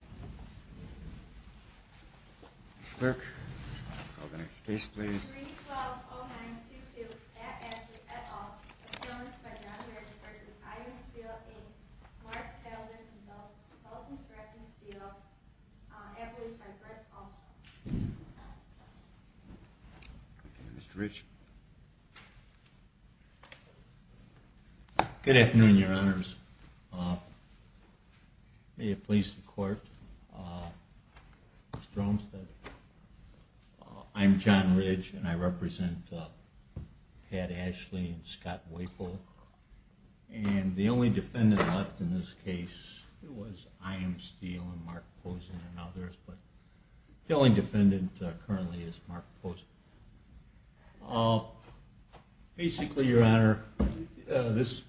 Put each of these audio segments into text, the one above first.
Mark Felding, Consultant Director Feel-Ed, solutions by Rick Oswald. Good afternoon, your honors. May it please the court, Mr. Olmstead. I'm John Ridge, and I represent Pat Ashley and Scott Weifel, and the only defendant left in this case was I.M. Steele and Mark Pozen and others. The only defendant currently is Mark Pozen. Basically, your honor, this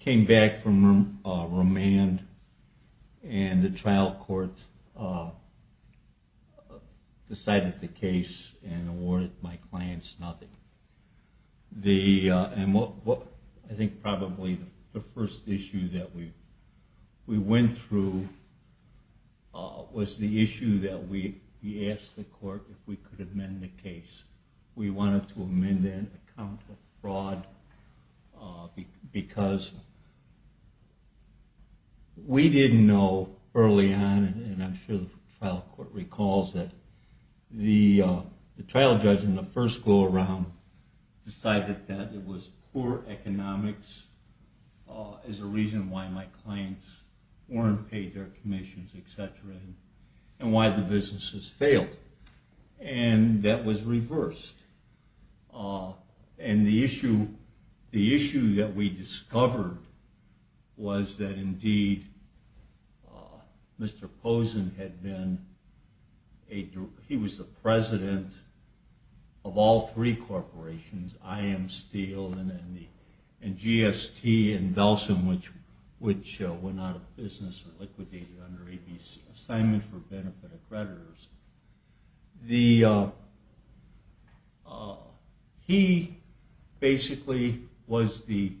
came back from remand, and the trial court decided the case and awarded my clients nothing. I think probably the first issue that we went through was the issue that we asked the court if we could amend the case. We wanted to amend that account of fraud because we didn't know early on, and I'm sure the trial court recalls it, but the trial judge in the first go-around decided that it was poor economics as a reason why my clients weren't paid their commissions, etc., and why the businesses failed, and that was reversed. The issue that we discovered was that indeed, Mr. Pozen was the president of all three corporations, I.M. Steele, and GST in Belsen, which went out of business and liquidated under ABC, Assignment for Benefit Accreditors. He basically was the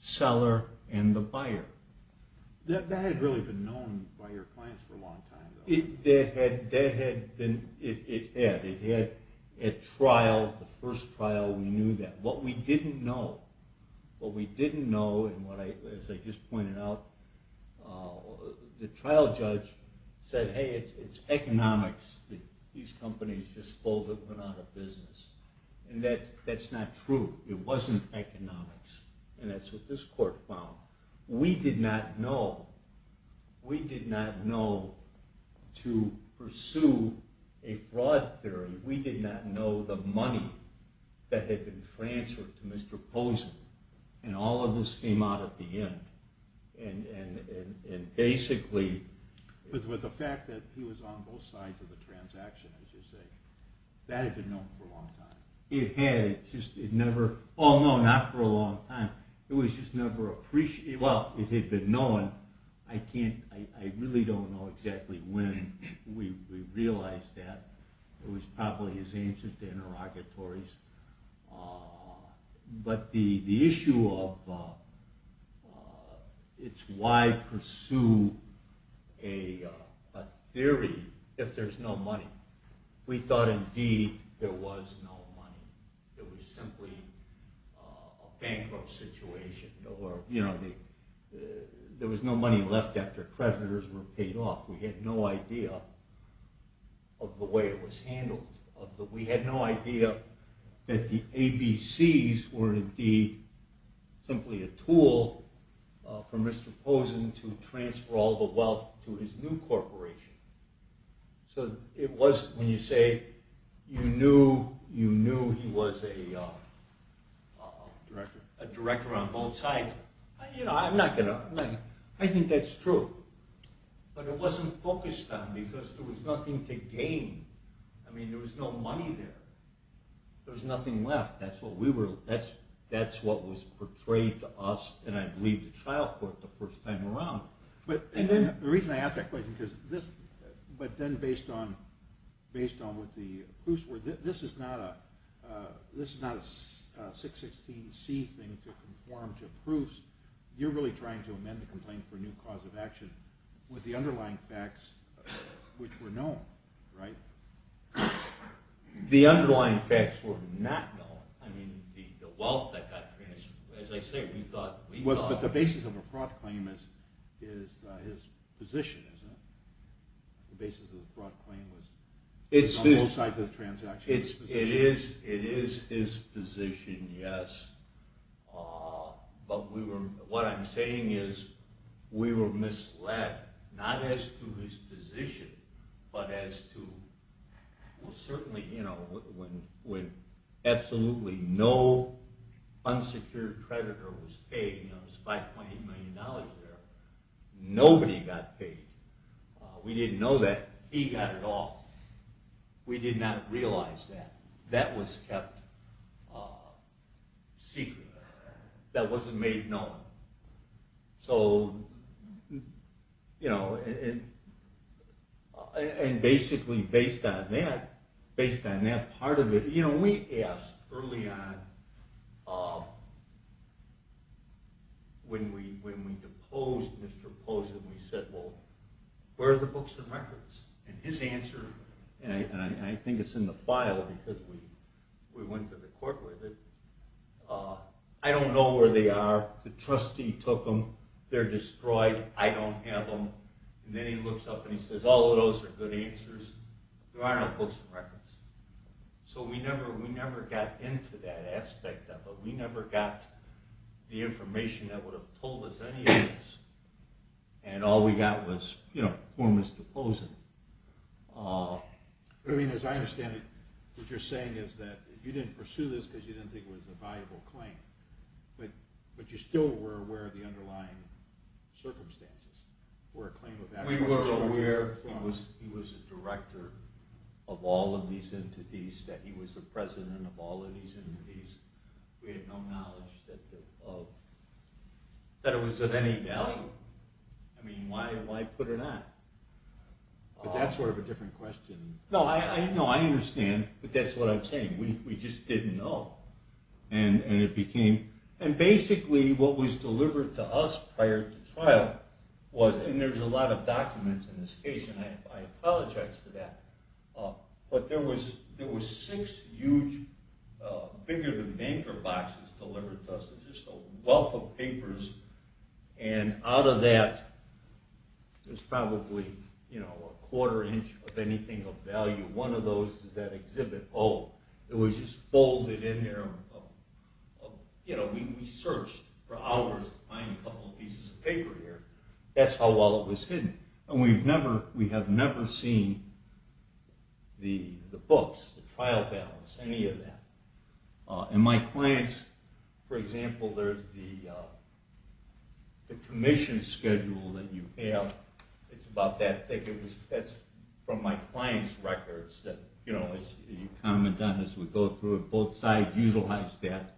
seller and the buyer. That had really been known by your clients for a long time. It had. At trial, the first trial, we knew that. What we didn't know, as I just pointed out, the trial judge said, hey, it's economics that these companies just pulled and went out of business. That's not true. It wasn't economics, and that's what this court found. We did not know to pursue a fraud theory. We did not know the money that had been transferred to Mr. Pozen, and all of this came out at the end. With the fact that he was on both sides of the transaction, as you say, that had been known for a long time. It had. Oh no, not for a long time. It was just never appreciated. Well, it had been known. I really don't know exactly when we realized that. It was probably his answer to interrogatories. But the issue of why pursue a theory if there's no money, we thought indeed there was no money. It was simply a bankrupt situation. There was no money left after creditors were paid off. We had no idea of the way it was handled. We had no idea that the ABCs were indeed simply a tool for Mr. Pozen to transfer all the wealth to his new corporation. So when you say you knew he was a director on both sides, I think that's true. But it wasn't focused on because there was nothing to gain. There was no money there. There was nothing left. That's what was portrayed to us and I believe the trial court the first time around. But the reason I ask that question, based on what the proofs were, this is not a 616C thing to conform to proofs. You're really trying to amend the complaint for a new cause of action with the underlying facts which were known, right? The underlying facts were not known. I mean, the wealth that got transferred, as I say, we thought... But the basis of a fraud claim is his position, isn't it? The basis of a fraud claim was on both sides of the transaction. It is his position, yes. But what I'm saying is we were misled, not as to his position, but as to... Absolutely no unsecured creditor was paid. There was $5.8 million there. Nobody got paid. We didn't know that he got it all. We did not realize that. That was kept secret. That wasn't made known. So, you know, and basically based on that part of it, we asked early on, when we proposed this proposal, we said, well, where are the books and records? And his answer, and I think it's in the file because we went to the court with it, I don't know where they are. The trustee took them. They're destroyed. I don't have them. And then he looks up and he says, all of those are good answers. There are no books and records. So we never got into that aspect of it. We never got the information that would have told us any of this. And all we got was formless deposing. As I understand it, what you're saying is that you didn't pursue this because you didn't think it was a valuable claim, but you still were aware of the underlying circumstances. We were aware he was a director of all of these entities, that he was the president of all of these entities. We had no knowledge that it was of any value. I mean, why put it on? But that's sort of a different question. No, I understand, but that's what I'm saying. We just didn't know. And basically, what was delivered to us prior to trial was, and there's a lot of documents in this case, and I apologize for that, but there was six huge bigger-than-banker boxes delivered to us, just a wealth of papers, and out of that was probably a quarter inch of anything of value. One of those is that exhibit pole. It was just folded in there. We searched for hours to find a couple of pieces of paper here. That's how well it was hidden, and we have never seen the books, the trial balance, any of that. In my client's, for example, there's the commission schedule that you have. It's about that thick. That's from my client's records. As we go through it, both sides utilize that.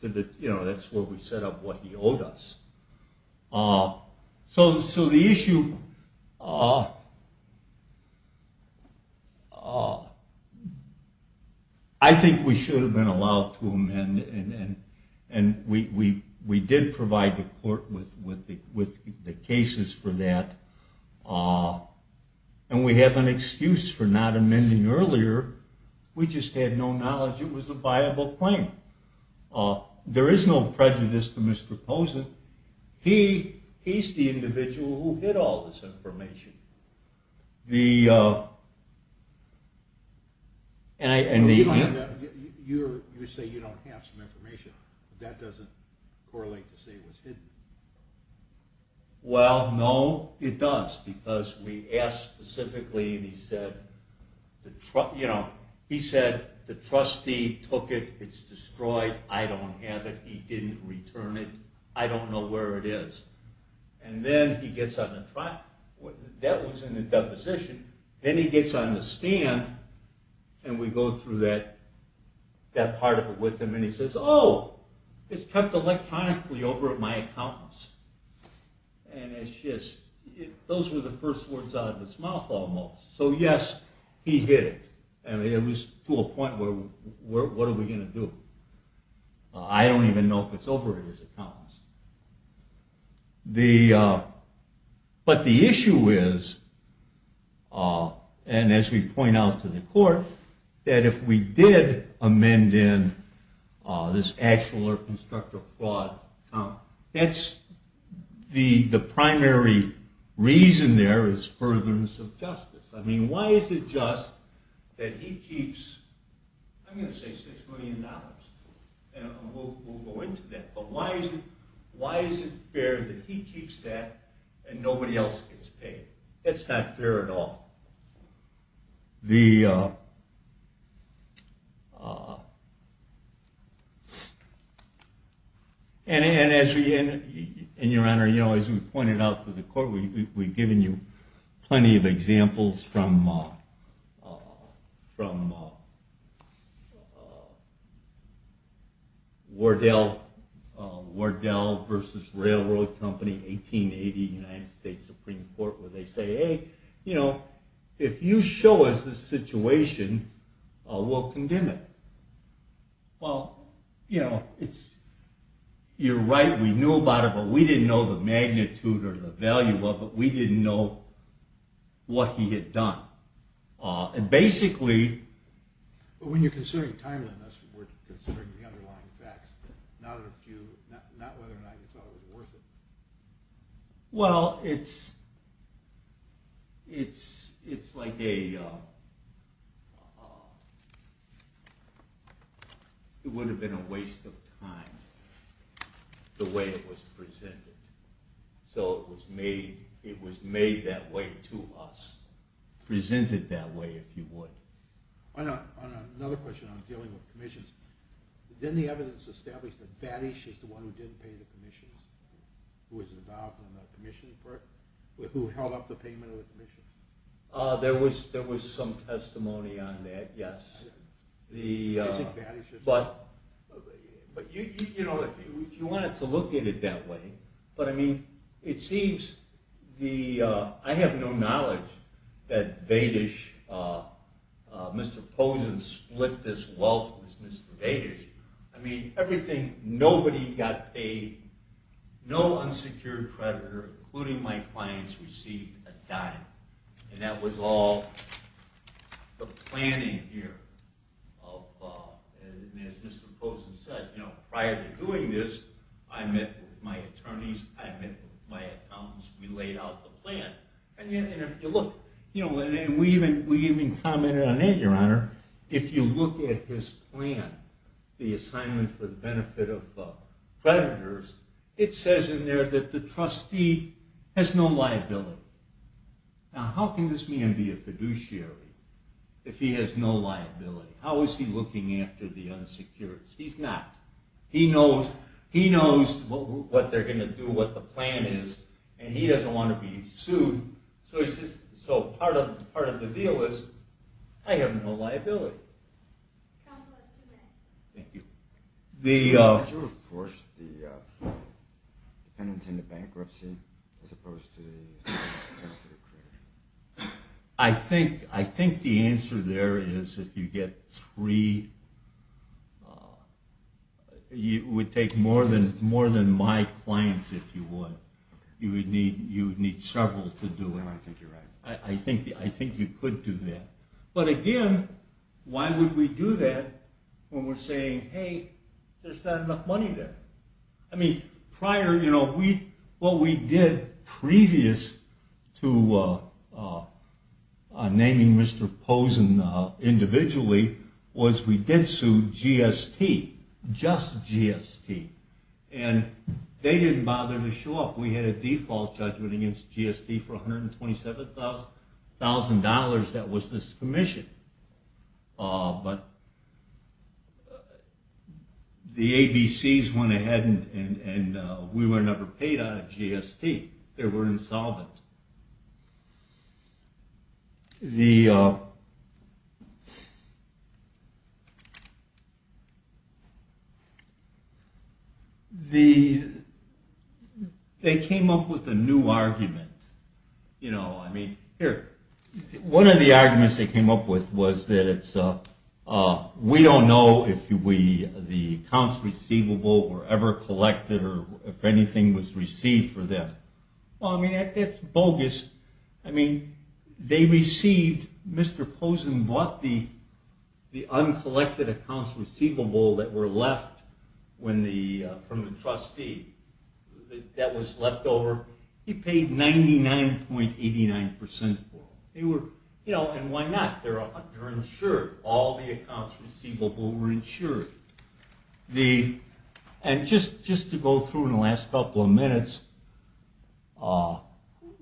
That's where we set up what he owed us. So the issue... I think we should have been allowed to amend, and we did provide the court with the cases for that, and we have an excuse for not amending earlier. We just had no knowledge it was a viable claim. There is no prejudice to Mr. Pozen. He's the individual who hid all this information. You say you don't have some information. That doesn't correlate to say it was hidden. Well, no, it does, because we asked specifically, and he said, the trustee took it. It's destroyed. I don't have it. He didn't return it. I don't know where it is. Then he gets on the stand, and we go through that part of it with him, and he says, oh, it's kept electronically over at my accountant's. Those were the first words out of his mouth, almost. So yes, he hid it. It was to a point where, what are we going to do? I don't even know if it's over at his accountant's. But the issue is, and as we point out to the court, that if we did amend in this actual or constructive fraud, that's the primary reason there is furtherance of justice. Why is it just that he keeps, I'm going to say $6 million, and we'll go into that, but why is it fair that he keeps that and nobody else gets paid? That's not fair at all. And your honor, as we pointed out to the court, we've given you plenty of examples from Wardell v. Railroad Company, 1880, United States Supreme Court, where they say, hey, if you show us this situation, we'll condemn it. Well, you're right, we knew about it, but we didn't know the magnitude or the value of it. We didn't know what he had done. But when you're considering timeliness, we're considering the underlying facts, not whether or not you thought it was worth it. Well, it's like a, it would have been a waste of time the way it was presented. So it was made that way to us. Presented that way, if you would. Another question on dealing with commissions. Didn't the evidence establish that Baddish is the one who didn't pay the commissions? Who held up the payment of the commissions? There was some testimony on that, yes. But, you know, if you wanted to look at it that way, but I mean, it seems, I have no knowledge that Mr. Posen split this wealth with Mr. Baddish. I mean, everything, nobody got paid, no unsecured creditor, including my clients, received a dime. And that was all the planning here. And as Mr. Posen said, prior to doing this, I met with my attorneys, I met with my accountants, we laid out the plan. And we even commented on that, your honor. If you look at his plan, the assignment for the benefit of creditors, it says in there that the trustee has no liability. Now how can this man be a fiduciary if he has no liability? How is he looking after the unsecured? He's not. He knows what they're going to do, what the plan is, and he doesn't want to be sued. So part of the deal is, I have no liability. Thank you. I think the answer there is if you get three, it would take more than my clients if you would. You would need several to do it. I think you could do that. But again, why would we do that when we're saying, hey, there's not enough money there. I mean, prior, what we did previous to naming Mr. Posen individually was we did sue GST. Just GST. And they didn't bother to show up. We had a default judgment against GST for $127,000 that was this commission. But the ABCs went ahead and we were never paid out of GST. They were insolvent. They came up with a new argument. One of the arguments they came up with was that we don't know if the accounts receivable were ever collected or if anything was received for them. I mean, that's bogus. They received, Mr. Posen bought the uncollected accounts receivable that were left from the trustee that was left over. He paid 99.89% for them. And why not? They're insured. All the accounts receivable were insured. And just to go through in the last couple of minutes,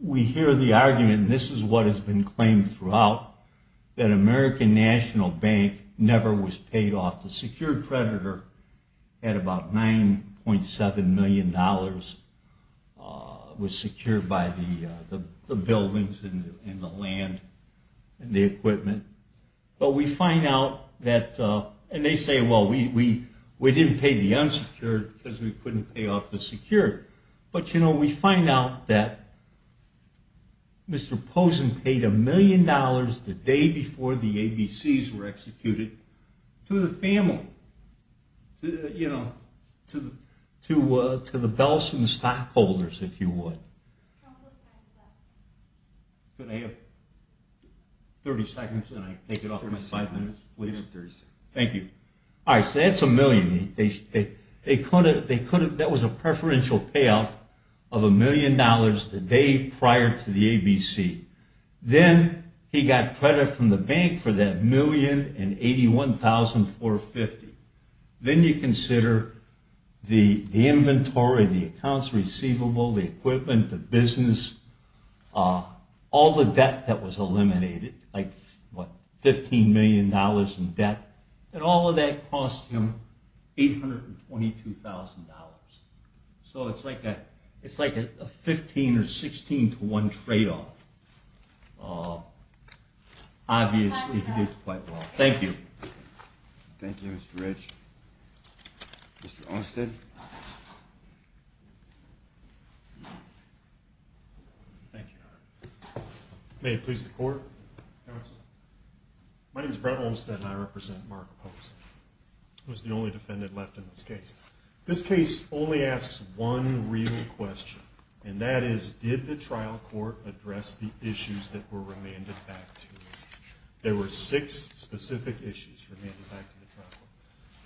we hear the argument, and this is what has been claimed throughout, that American National Bank never was paid off. The secured creditor had about $9.7 million. It was secured by the buildings and the land and the equipment. But we find out that, and they say, well, we didn't pay the unsecured because we couldn't pay off the secured. But we find out that Mr. Posen paid $1 million the day before the ABCs were executed to the family, to the Bellson stockholders, if you would. I have 30 seconds, and I take it off in five minutes. Thank you. All right, so that's $1 million. That was a preferential payout of $1 million the day prior to the ABC. Then he got credit from the bank for that $1,081,450. Then you consider the inventory, the accounts receivable, the equipment, the business, all the debt that was eliminated, like $15 million in debt, and all of that cost him $822,000. So it's like a 15 or 16 to 1 tradeoff. Obviously, he did quite well. Thank you. Thank you, Mr. Rich. Mr. Olmstead? Thank you. May it please the court. My name is Brent Olmstead, and I represent Mark Posen. I was the only defendant left in this case. This case only asks one real question, and that is, did the trial court address the issues that were remanded back to me? There were six specific issues remanded back to the trial court.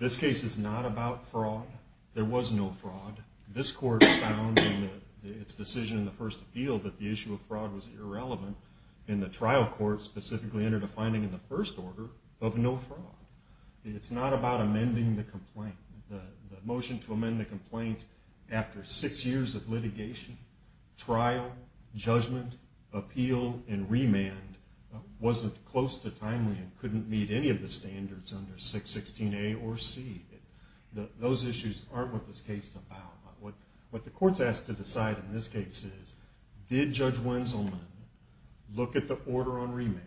This case is not about fraud. There was no fraud. This court found in its decision in the first appeal that the issue of fraud was irrelevant, and the trial court specifically entered a finding in the first order of no fraud. It's not about amending the complaint. The motion to amend the complaint after six years of litigation, trial, judgment, appeal, and remand wasn't close to timely and couldn't meet any of the standards under 616A or C. Those issues aren't what this case is about. What the court's asked to decide in this case is, did Judge Wenzelman look at the order on remand,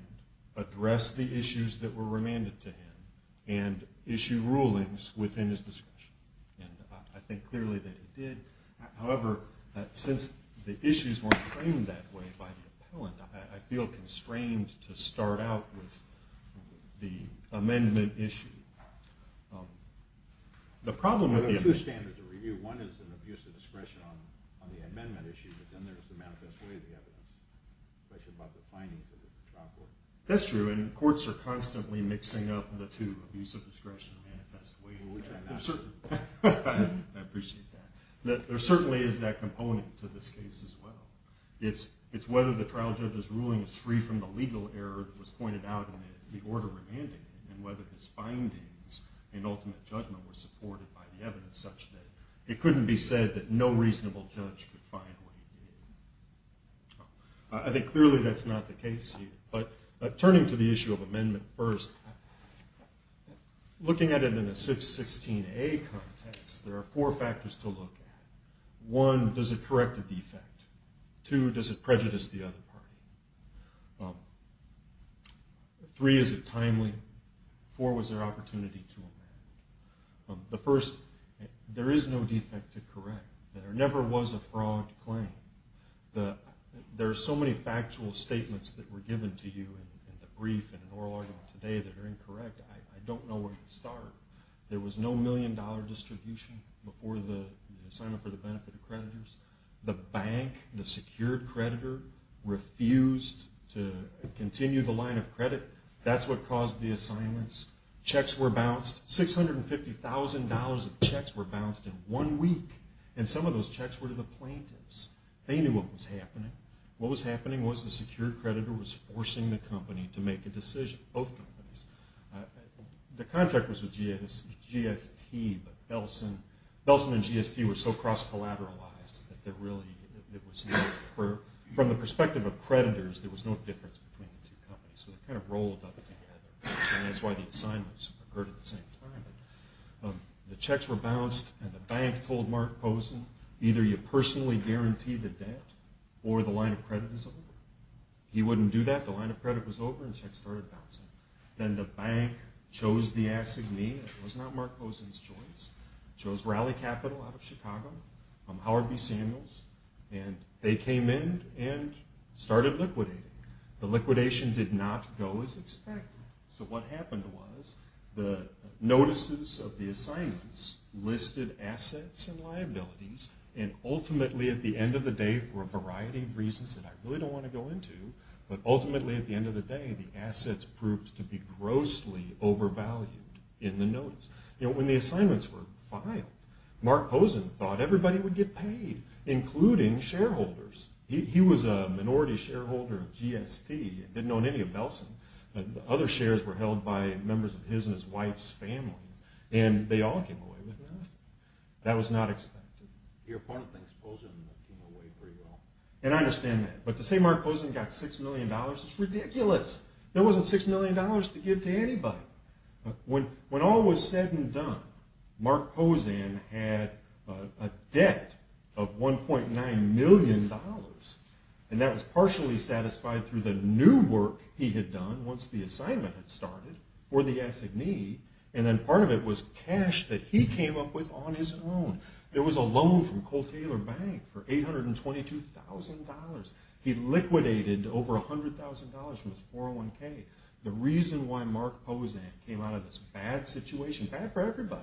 address the issues that were remanded to him, and issue rulings within his discretion? I think clearly that he did. However, since the issues weren't framed that way by the appellant, I feel constrained to start out with the amendment issue. There are two standards of review. One is an abuse of discretion on the amendment issue, but then there's the manifest way of the evidence, especially about the findings of the trial court. That's true, and courts are constantly mixing up the two, abuse of discretion and manifest way, which I'm not sure about. I appreciate that. There certainly is that component to this case as well. It's whether the trial judge's ruling is free from the legal error that was pointed out in the order remanded, and whether his findings in ultimate judgment were supported by the evidence such that it couldn't be said that no reasonable judge could find what he did. I think clearly that's not the case here, but turning to the issue of amendment first, looking at it in a 616A context, there are four factors to look at. One, does it correct a defect? Two, does it prejudice the other party? Three, is it timely? Four, was there opportunity to amend? The first, there is no defect to correct. There never was a fraud claim. There are so many factual statements that were given to you in the brief and oral argument today that are incorrect. I don't know where to start. There was no million dollar distribution before the assignment for the benefit of creditors. The bank, the secured creditor, refused to continue the line of credit. That's what caused the assignments. Checks were bounced. $650,000 of checks were bounced in one week, and some of those checks were to the plaintiffs. They knew what was happening. What was happening was the secured creditor was forcing the company to make a decision, both companies. The contract was with GST, but Belson and GST were so cross-collateralized that there really was no, from the perspective of creditors, there was no difference between the two companies. So they kind of rolled up together, and that's why the assignments occurred at the same time. The checks were bounced, and the bank told Mark Pozen, either you personally guarantee the debt or the line of credit is over. He wouldn't do that. The line of credit was over, and checks started bouncing. Then the bank chose the assignee. It was not Mark Pozen's choice. It chose Raleigh Capital out of Chicago, Howard B. Samuels, and they came in and started liquidating. The liquidation did not go as expected. So what happened was the notices of the assignments listed assets and liabilities, and ultimately, at the end of the day, for a variety of reasons that I really don't want to go into, but ultimately, at the end of the day, the assets proved to be grossly overvalued in the notice. When the assignments were filed, Mark Pozen thought everybody would get paid, including shareholders. He was a minority shareholder of GST and didn't own any of Belson. Other shares were held by members of his and his wife's family, and they all came away with nothing. That was not expected. Your opponent thinks Pozen came away pretty well. I understand that, but to say Mark Pozen got $6 million is ridiculous. There wasn't $6 million to give to anybody. When all was said and done, Mark Pozen had a debt of $1.9 million, and that was partially satisfied through the new work he had done once the assignment had started for the assignee, and then part of it was cash that he came up with on his own. There was a loan from Cole Taylor Bank for $822,000. He liquidated over $100,000 from his 401k. The reason why Mark Pozen came out of this bad situation, bad for everybody,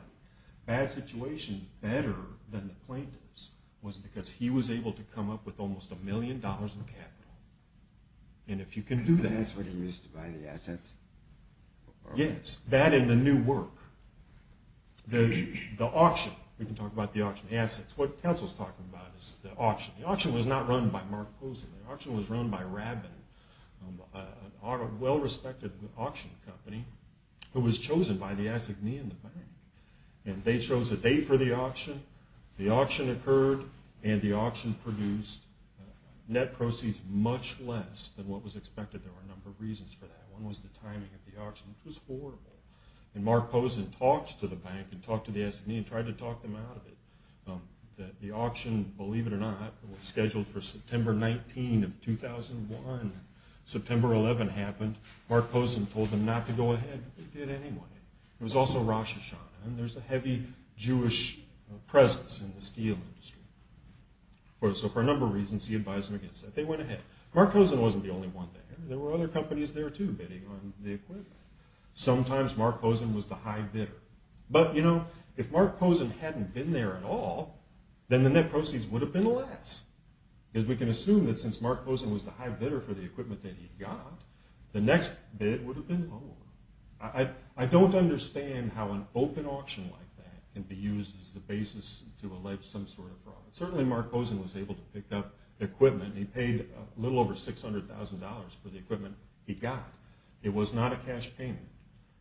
bad situation, better than the plaintiffs, was because he was able to come up with almost $1 million in capital. And if you can do that... That's what he used to buy the assets? Yes, that and the new work. The auction, we can talk about the auction assets. What counsel's talking about is the auction. The auction was not run by Mark Pozen. The auction was run by Rabin, a well-respected auction company who was chosen by the assignee in the bank. And they chose a date for the auction. The auction occurred, and the auction produced net proceeds much less than what was expected. There were a number of reasons for that. One was the timing of the auction, which was horrible. And Mark Pozen talked to the bank and talked to the assignee and tried to talk them out of it. The auction, believe it or not, was scheduled for September 19 of 2001. September 11 happened. Mark Pozen told them not to go ahead, but they did anyway. It was also Rosh Hashanah, and there's a heavy Jewish presence in the steel industry. So for a number of reasons, he advised them against it. They went ahead. Mark Pozen wasn't the only one there. There were other companies there, too, bidding on the equipment. Sometimes Mark Pozen was the high bidder. But, you know, if Mark Pozen hadn't been there at all, then the net proceeds would have been less. Because we can assume that since Mark Pozen was the high bidder for the equipment that he got, the next bid would have been lower. I don't understand how an open auction like that can be used as the basis to allege some sort of fraud. Certainly Mark Pozen was able to pick up the equipment. He paid a little over $600,000 for the equipment he got. It was not a cash payment.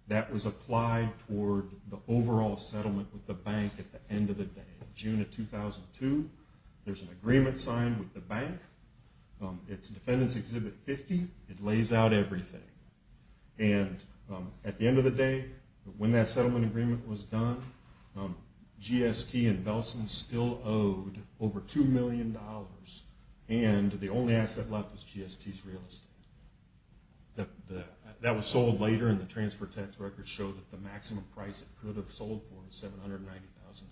That was applied toward the overall settlement with the bank at the end of the day. June of 2002, there's an agreement signed with the bank. It's Defendant's Exhibit 50. It lays out everything. And at the end of the day, when that settlement agreement was done, GST and Belson still owed over $2 million. And the only asset left was GST's real estate. That was sold later, and the transfer tax records show that the maximum price it could have sold for was $790,000.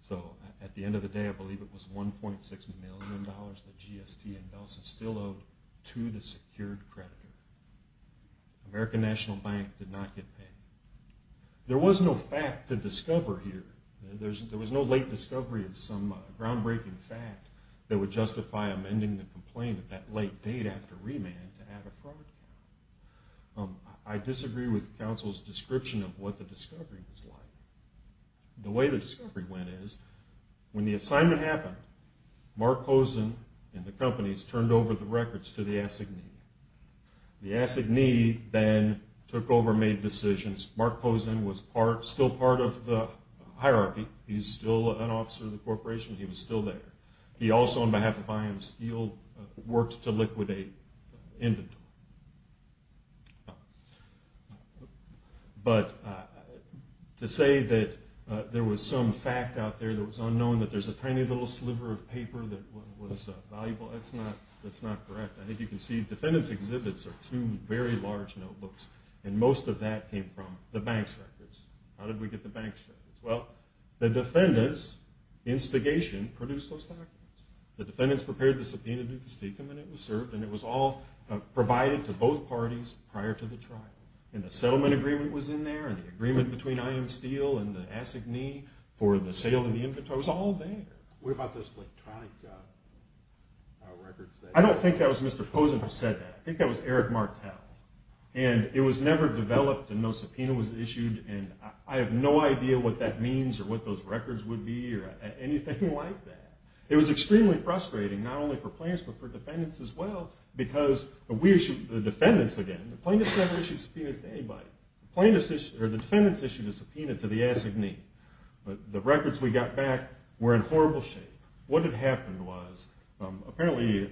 So at the end of the day, I believe it was $1.6 million that GST and Belson still owed to the secured creditor. American National Bank did not get paid. There was no fact to discover here. There was no late discovery of some groundbreaking fact that would justify amending the complaint at that late date after remand to add a fraud. I disagree with counsel's description of what the discovery was like. The way the discovery went is, when the assignment happened, Mark Pozen and the companies turned over the records to the S&E. The S&E then took over and made decisions. Mark Pozen was still part of the hierarchy. He's still an officer of the corporation. He was still there. He also, on behalf of I.M. Steele, worked to liquidate inventory. But to say that there was some fact out there that was unknown, that there's a tiny little sliver of paper that was valuable, that's not correct. I think you can see defendants' exhibits are two very large notebooks, and most of that came from the bank's records. How did we get the bank's records? Well, the defendants, instigation, produced those documents. The defendants prepared the subpoena du castigum, and it was served, and it was all provided to both parties prior to the trial. And the settlement agreement was in there, and the agreement between I.M. Steele and the S&E for the sale of the inventory was all there. What about those electronic records? I don't think that was Mr. Pozen who said that. I think that was Eric Martel. And it was never developed, and no subpoena was issued, and I have no idea what that means or what those records would be or anything like that. It was extremely frustrating, not only for plaintiffs but for defendants as well, because we issued the defendants again. The plaintiffs never issued subpoenas to anybody. The defendants issued a subpoena to the S&E. But the records we got back were in horrible shape. What had happened was, apparently a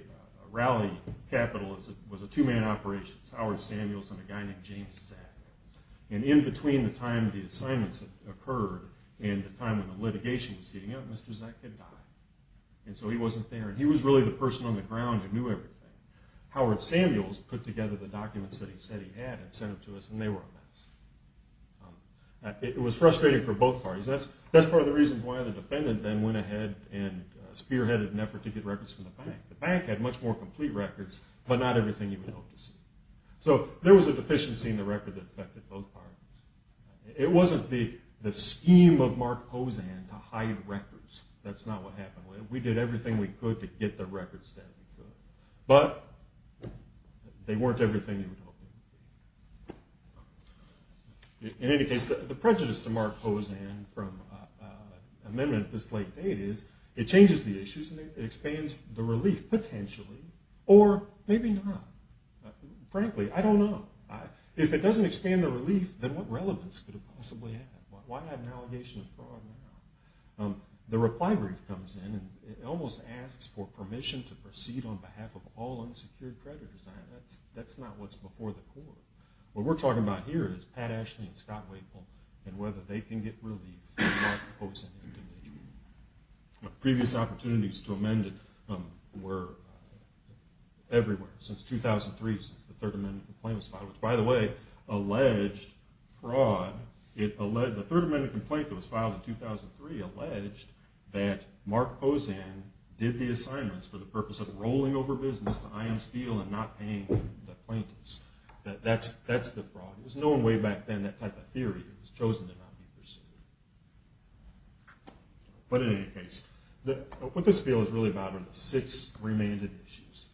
rally capital was a two-man operation. It was Howard Samuels and a guy named James Zack. And in between the time the assignments had occurred and the time when the litigation was heating up, Mr. Zack had died. And so he wasn't there, and he was really the person on the ground who knew everything. Howard Samuels put together the documents that he said he had and sent them to us, and they were in there. It was frustrating for both parties. That's part of the reason why the defendant then went ahead and spearheaded an effort to get records from the bank. The bank had much more complete records, but not everything you would hope to see. So there was a deficiency in the record that affected both parties. It wasn't the scheme of Mark Hosan to hide records. That's not what happened. We did everything we could to get the records that we could. But they weren't everything they were hoping to get. In any case, the prejudice to Mark Hosan from an amendment this late date is, it changes the issues, and it expands the relief, potentially. Or maybe not. Frankly, I don't know. If it doesn't expand the relief, then what relevance could it possibly have? Why not an allegation of fraud? The reply brief comes in, and it almost asks for permission to proceed on behalf of all unsecured creditors. That's not what's before the court. What we're talking about here is Pat Ashley and Scott Wakefield and whether they can get relief from Mark Hosan. Previous opportunities to amend it were everywhere. Since 2003, since the third amendment complaint was filed, which by the way, alleged fraud. The third amendment complaint that was filed in 2003 alleged that Mark Hosan did the assignments for the purpose of rolling over business to IM Steele and not paying the plaintiffs. That's the fraud. It was known way back then, that type of theory. It was chosen to not be pursued. But in any case, what this bill is really about are the six remaining issues.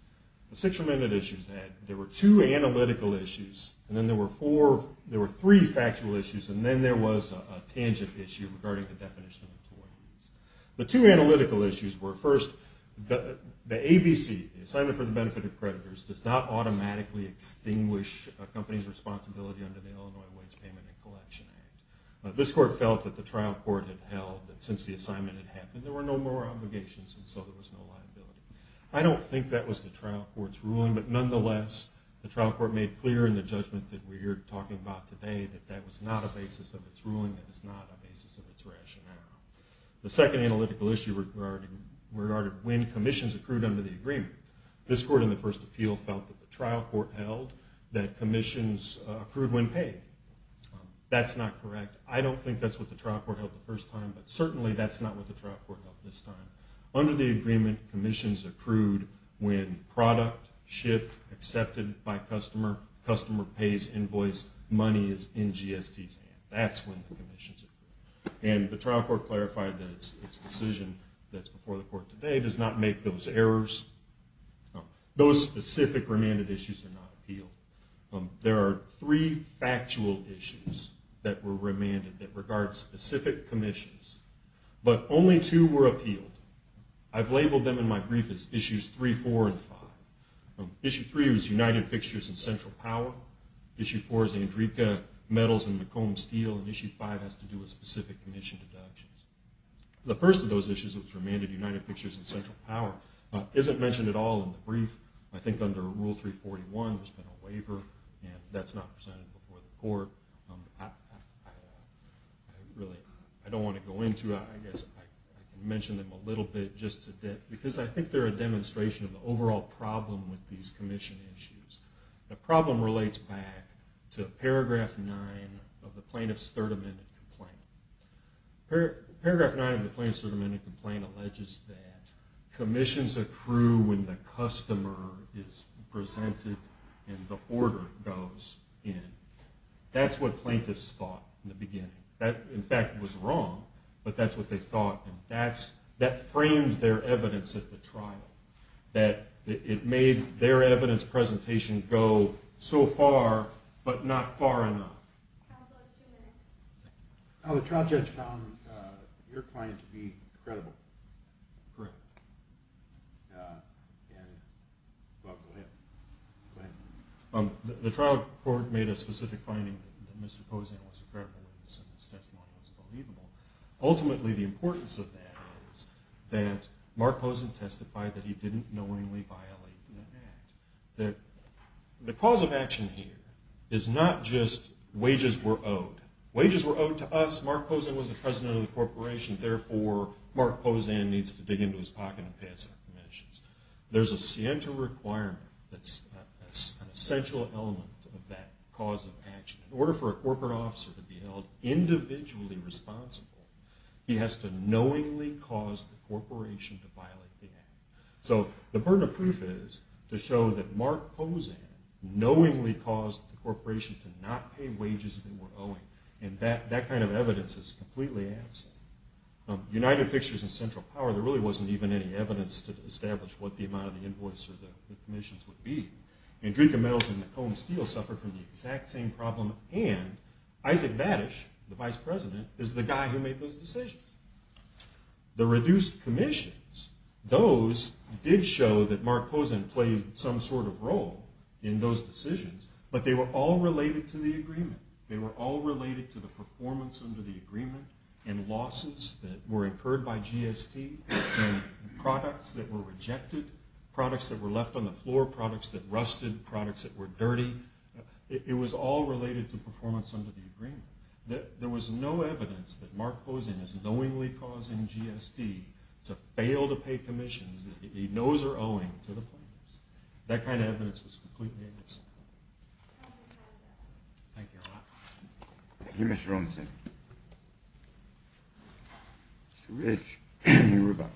The six remaining issues are that there were two analytical issues, and then there were three factual issues, and then there was a tangent issue regarding the definition of employees. The two analytical issues were, first, the ABC, the Assignment for the Benefit of Creditors, does not automatically extinguish a company's responsibility under the Illinois Wage Payment and Collection Act. This court felt that the trial court had held that since the assignment had happened, there were no more obligations, and so there was no liability. I don't think that was the trial court's ruling, but nonetheless, the trial court made clear in the judgment that we're here talking about today that that was not a basis of its ruling, that was not a basis of its rationale. The second analytical issue regarded when commissions accrued under the agreement. This court in the first appeal felt that the trial court held that commissions accrued when paid. That's not correct. I don't think that's what the trial court held the first time, but certainly that's not what the trial court held this time. Under the agreement, commissions accrued when product, ship, accepted by customer, customer pays invoice, money is in GST's hands. That's when the commissions accrued, and the trial court clarified that its decision that's before the court today does not make those errors. Those specific remanded issues are not appealed. There are three factual issues that were remanded that regard specific commissions, but only two were appealed. I've labeled them in my brief as Issues 3, 4, and 5. Issue 3 was United Fixtures and Central Power. Issue 4 is Andreeka Metals and McComb Steel, and Issue 5 has to do with specific commission deductions. The first of those issues that was remanded, United Fixtures and Central Power, isn't mentioned at all in the brief. I think under Rule 341 there's been a waiver, and that's not presented before the court. I don't want to go into it. I guess I can mention them a little bit just to dip, because I think they're a demonstration of the overall problem with these commission issues. The problem relates back to Paragraph 9 of the plaintiff's Third Amendment complaint. Paragraph 9 of the plaintiff's Third Amendment complaint alleges that commissions accrue when the customer is presented and the order goes in. That's what plaintiffs thought in the beginning. That, in fact, was wrong, but that's what they thought, and that framed their evidence at the trial. It made their evidence presentation go so far, but not far enough. The trial judge found your client to be credible. Correct. Go ahead. The trial court made a specific finding that Mr. Pozen was credible, and his test model was believable. Ultimately, the importance of that is that Mark Pozen testified that he didn't knowingly violate an act. The cause of action here is not just wages were owed. Wages were owed to us. Mark Pozen was the president of the corporation. Therefore, Mark Pozen needs to dig into his pocket and pay us our commissions. There's a scienter requirement that's an essential element of that cause of action. In order for a corporate officer to be held individually responsible, he has to knowingly cause the corporation to violate the act. The burden of proof is to show that Mark Pozen knowingly caused the corporation to not pay wages they were owing, and that kind of evidence is completely absent. United Fixtures and Central Power, there really wasn't even any evidence to establish what the amount of the invoice or the commissions would be. And Drieke Metals and McComb Steel suffered from the exact same problem, and Isaac Vadish, the vice president, is the guy who made those decisions. The reduced commissions, those did show that Mark Pozen played some sort of role in those decisions, but they were all related to the agreement. They were all related to the performance under the agreement, and losses that were incurred by GST, and products that were rejected, products that were left on the floor, products that rusted, products that were dirty. There was no evidence that Mark Pozen is knowingly causing GST to fail to pay commissions that he knows are owing to the players. That kind of evidence was completely absent. Thank you, Your Honor. Thank you, Mr. Robinson. Mr. Rich, you were about.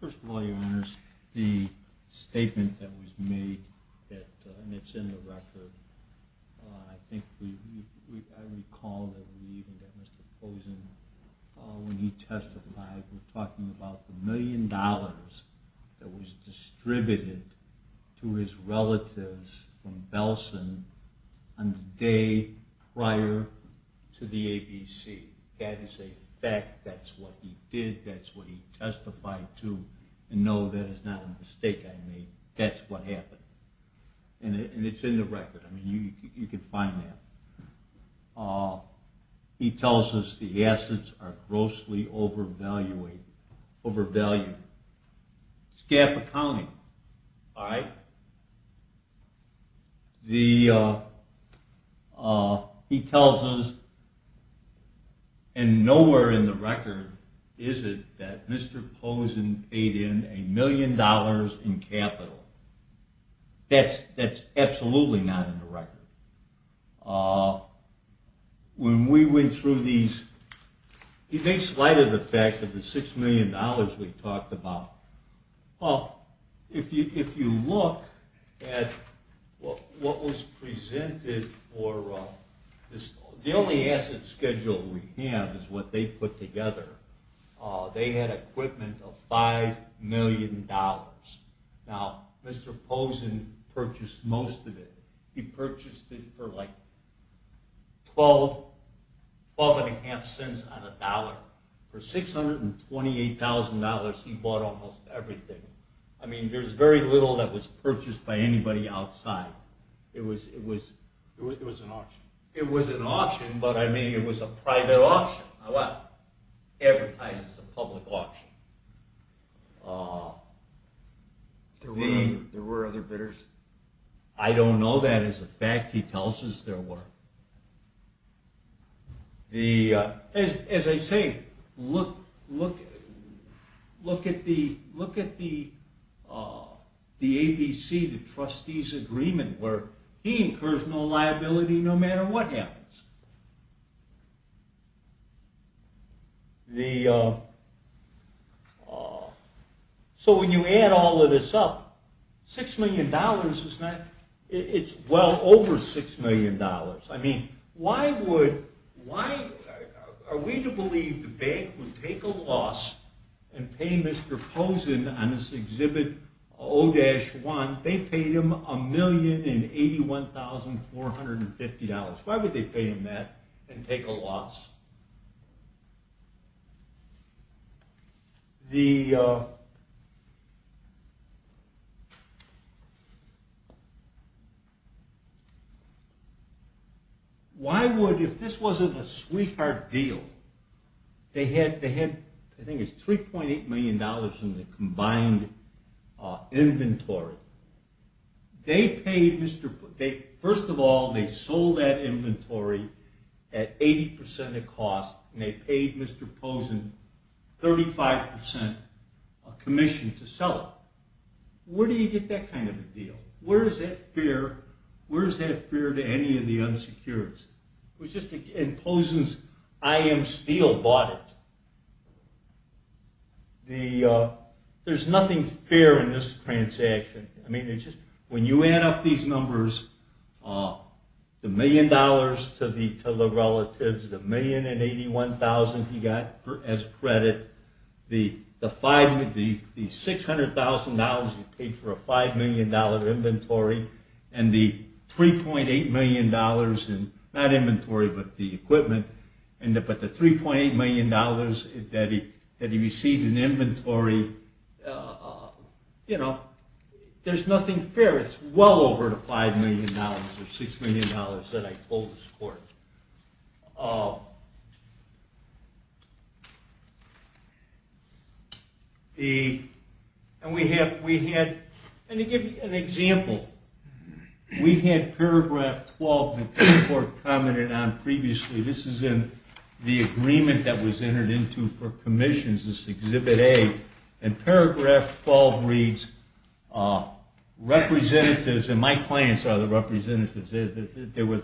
First of all, Your Honors, the statement that was made, and it's in the record, I think I recall that we even got Mr. Pozen, when he testified, we're talking about the million dollars that was distributed to his relatives from Belsen on the day prior to the ABC. That is a fact. That's what he did. That's what he testified to. And no, that is not a mistake I made. That's what happened. And it's in the record. You can find that. He tells us the assets are grossly overvalued. It's gap accounting. He tells us, and nowhere in the record is it that Mr. Pozen paid in a million dollars in capital. When we went through these, he makes light of the fact that the $6 million we talked about, if you look at what was presented, the only asset schedule we have is what they put together. They had equipment of $5 million. Now, Mr. Pozen purchased most of it. He purchased it for like 12 and a half cents on a dollar. For $628,000, he bought almost everything. I mean, there's very little that was purchased by anybody outside. It was an auction, but I mean, it was a private auction. Advertises a public auction. There were other bidders? I don't know that as a fact. He tells us there were. As I say, look at the ABC, the trustees' agreement, where he incurs no liability no matter what happens. The... So when you add all of this up, $6 million is not... It's well over $6 million. I mean, why would... Are we to believe the bank would take a loss and pay Mr. Pozen on this exhibit, O-1, they paid him $1,081,450. Why would they pay him that and take a loss? The... Why would, if this wasn't a sweetheart deal, they had, I think it's $3.8 million in the combined inventory. They paid Mr. Pozen... First of all, they sold that inventory at 80% of cost, and they paid Mr. Pozen 35% commission to sell it. Where do you get that kind of a deal? Where is that fair to any of the unsecureds? And Pozen's IM Steel bought it. The... There's nothing fair in this transaction. I mean, when you add up these numbers, the million dollars to the relatives, the $1,081,000 he got as credit, the $600,000 he paid for a $5 million inventory, and the $3.8 million in, not inventory, but the equipment, but the $3.8 million that he received in inventory, you know, there's nothing fair. It's well over the $5 million or $6 million that I told this court. The... And we have, we had... Let me give you an example. We had paragraph 12 that the court commented on previously. This is in the agreement that was entered into for commissions, this Exhibit A, and paragraph 12 reads, representatives, and my clients are the representatives, they were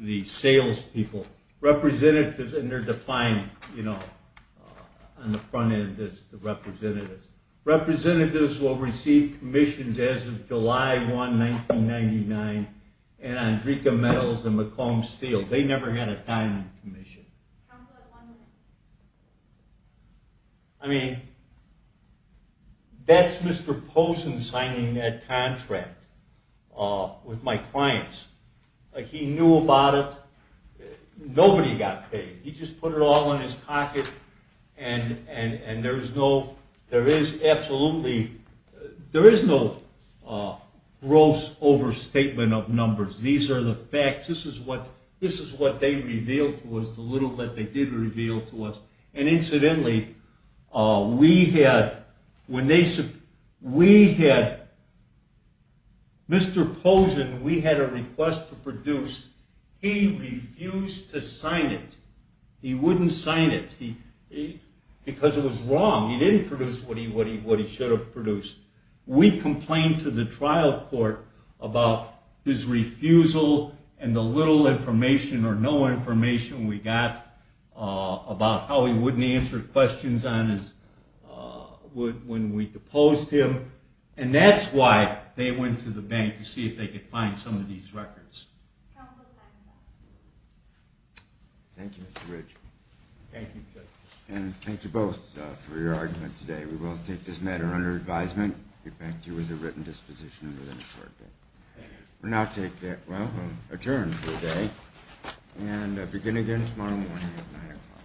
the salespeople. Representatives, and they're defined, you know, on the front end as the representatives. Representatives will receive commissions as of July 1, 1999, and Andrika Metals and McComb Steel. They never had a time commission. I mean, that's Mr. Posen signing that contract with my clients. He knew about it. Nobody got paid. He just put it all in his pocket, and there is no, there is absolutely, there is no gross overstatement of numbers. These are the facts. This is what they revealed to us, the little that they did reveal to us. And incidentally, we had, when they, we had, Mr. Posen, we had a request to produce. He refused to sign it. He wouldn't sign it because it was wrong. He didn't produce what he should have produced. We complained to the trial court about his refusal and the little information or no information we got about how he wouldn't answer questions on his, when we deposed him, and that's why they went to the bank to see if they could find some of these records. Thank you, Mr. Rich. Thank you, Judge. And thank you both for your argument today. We will take this matter under advisement, get back to you with a written disposition within a short bit. We now take, well, adjourn for the day and begin again tomorrow morning at 9 o'clock.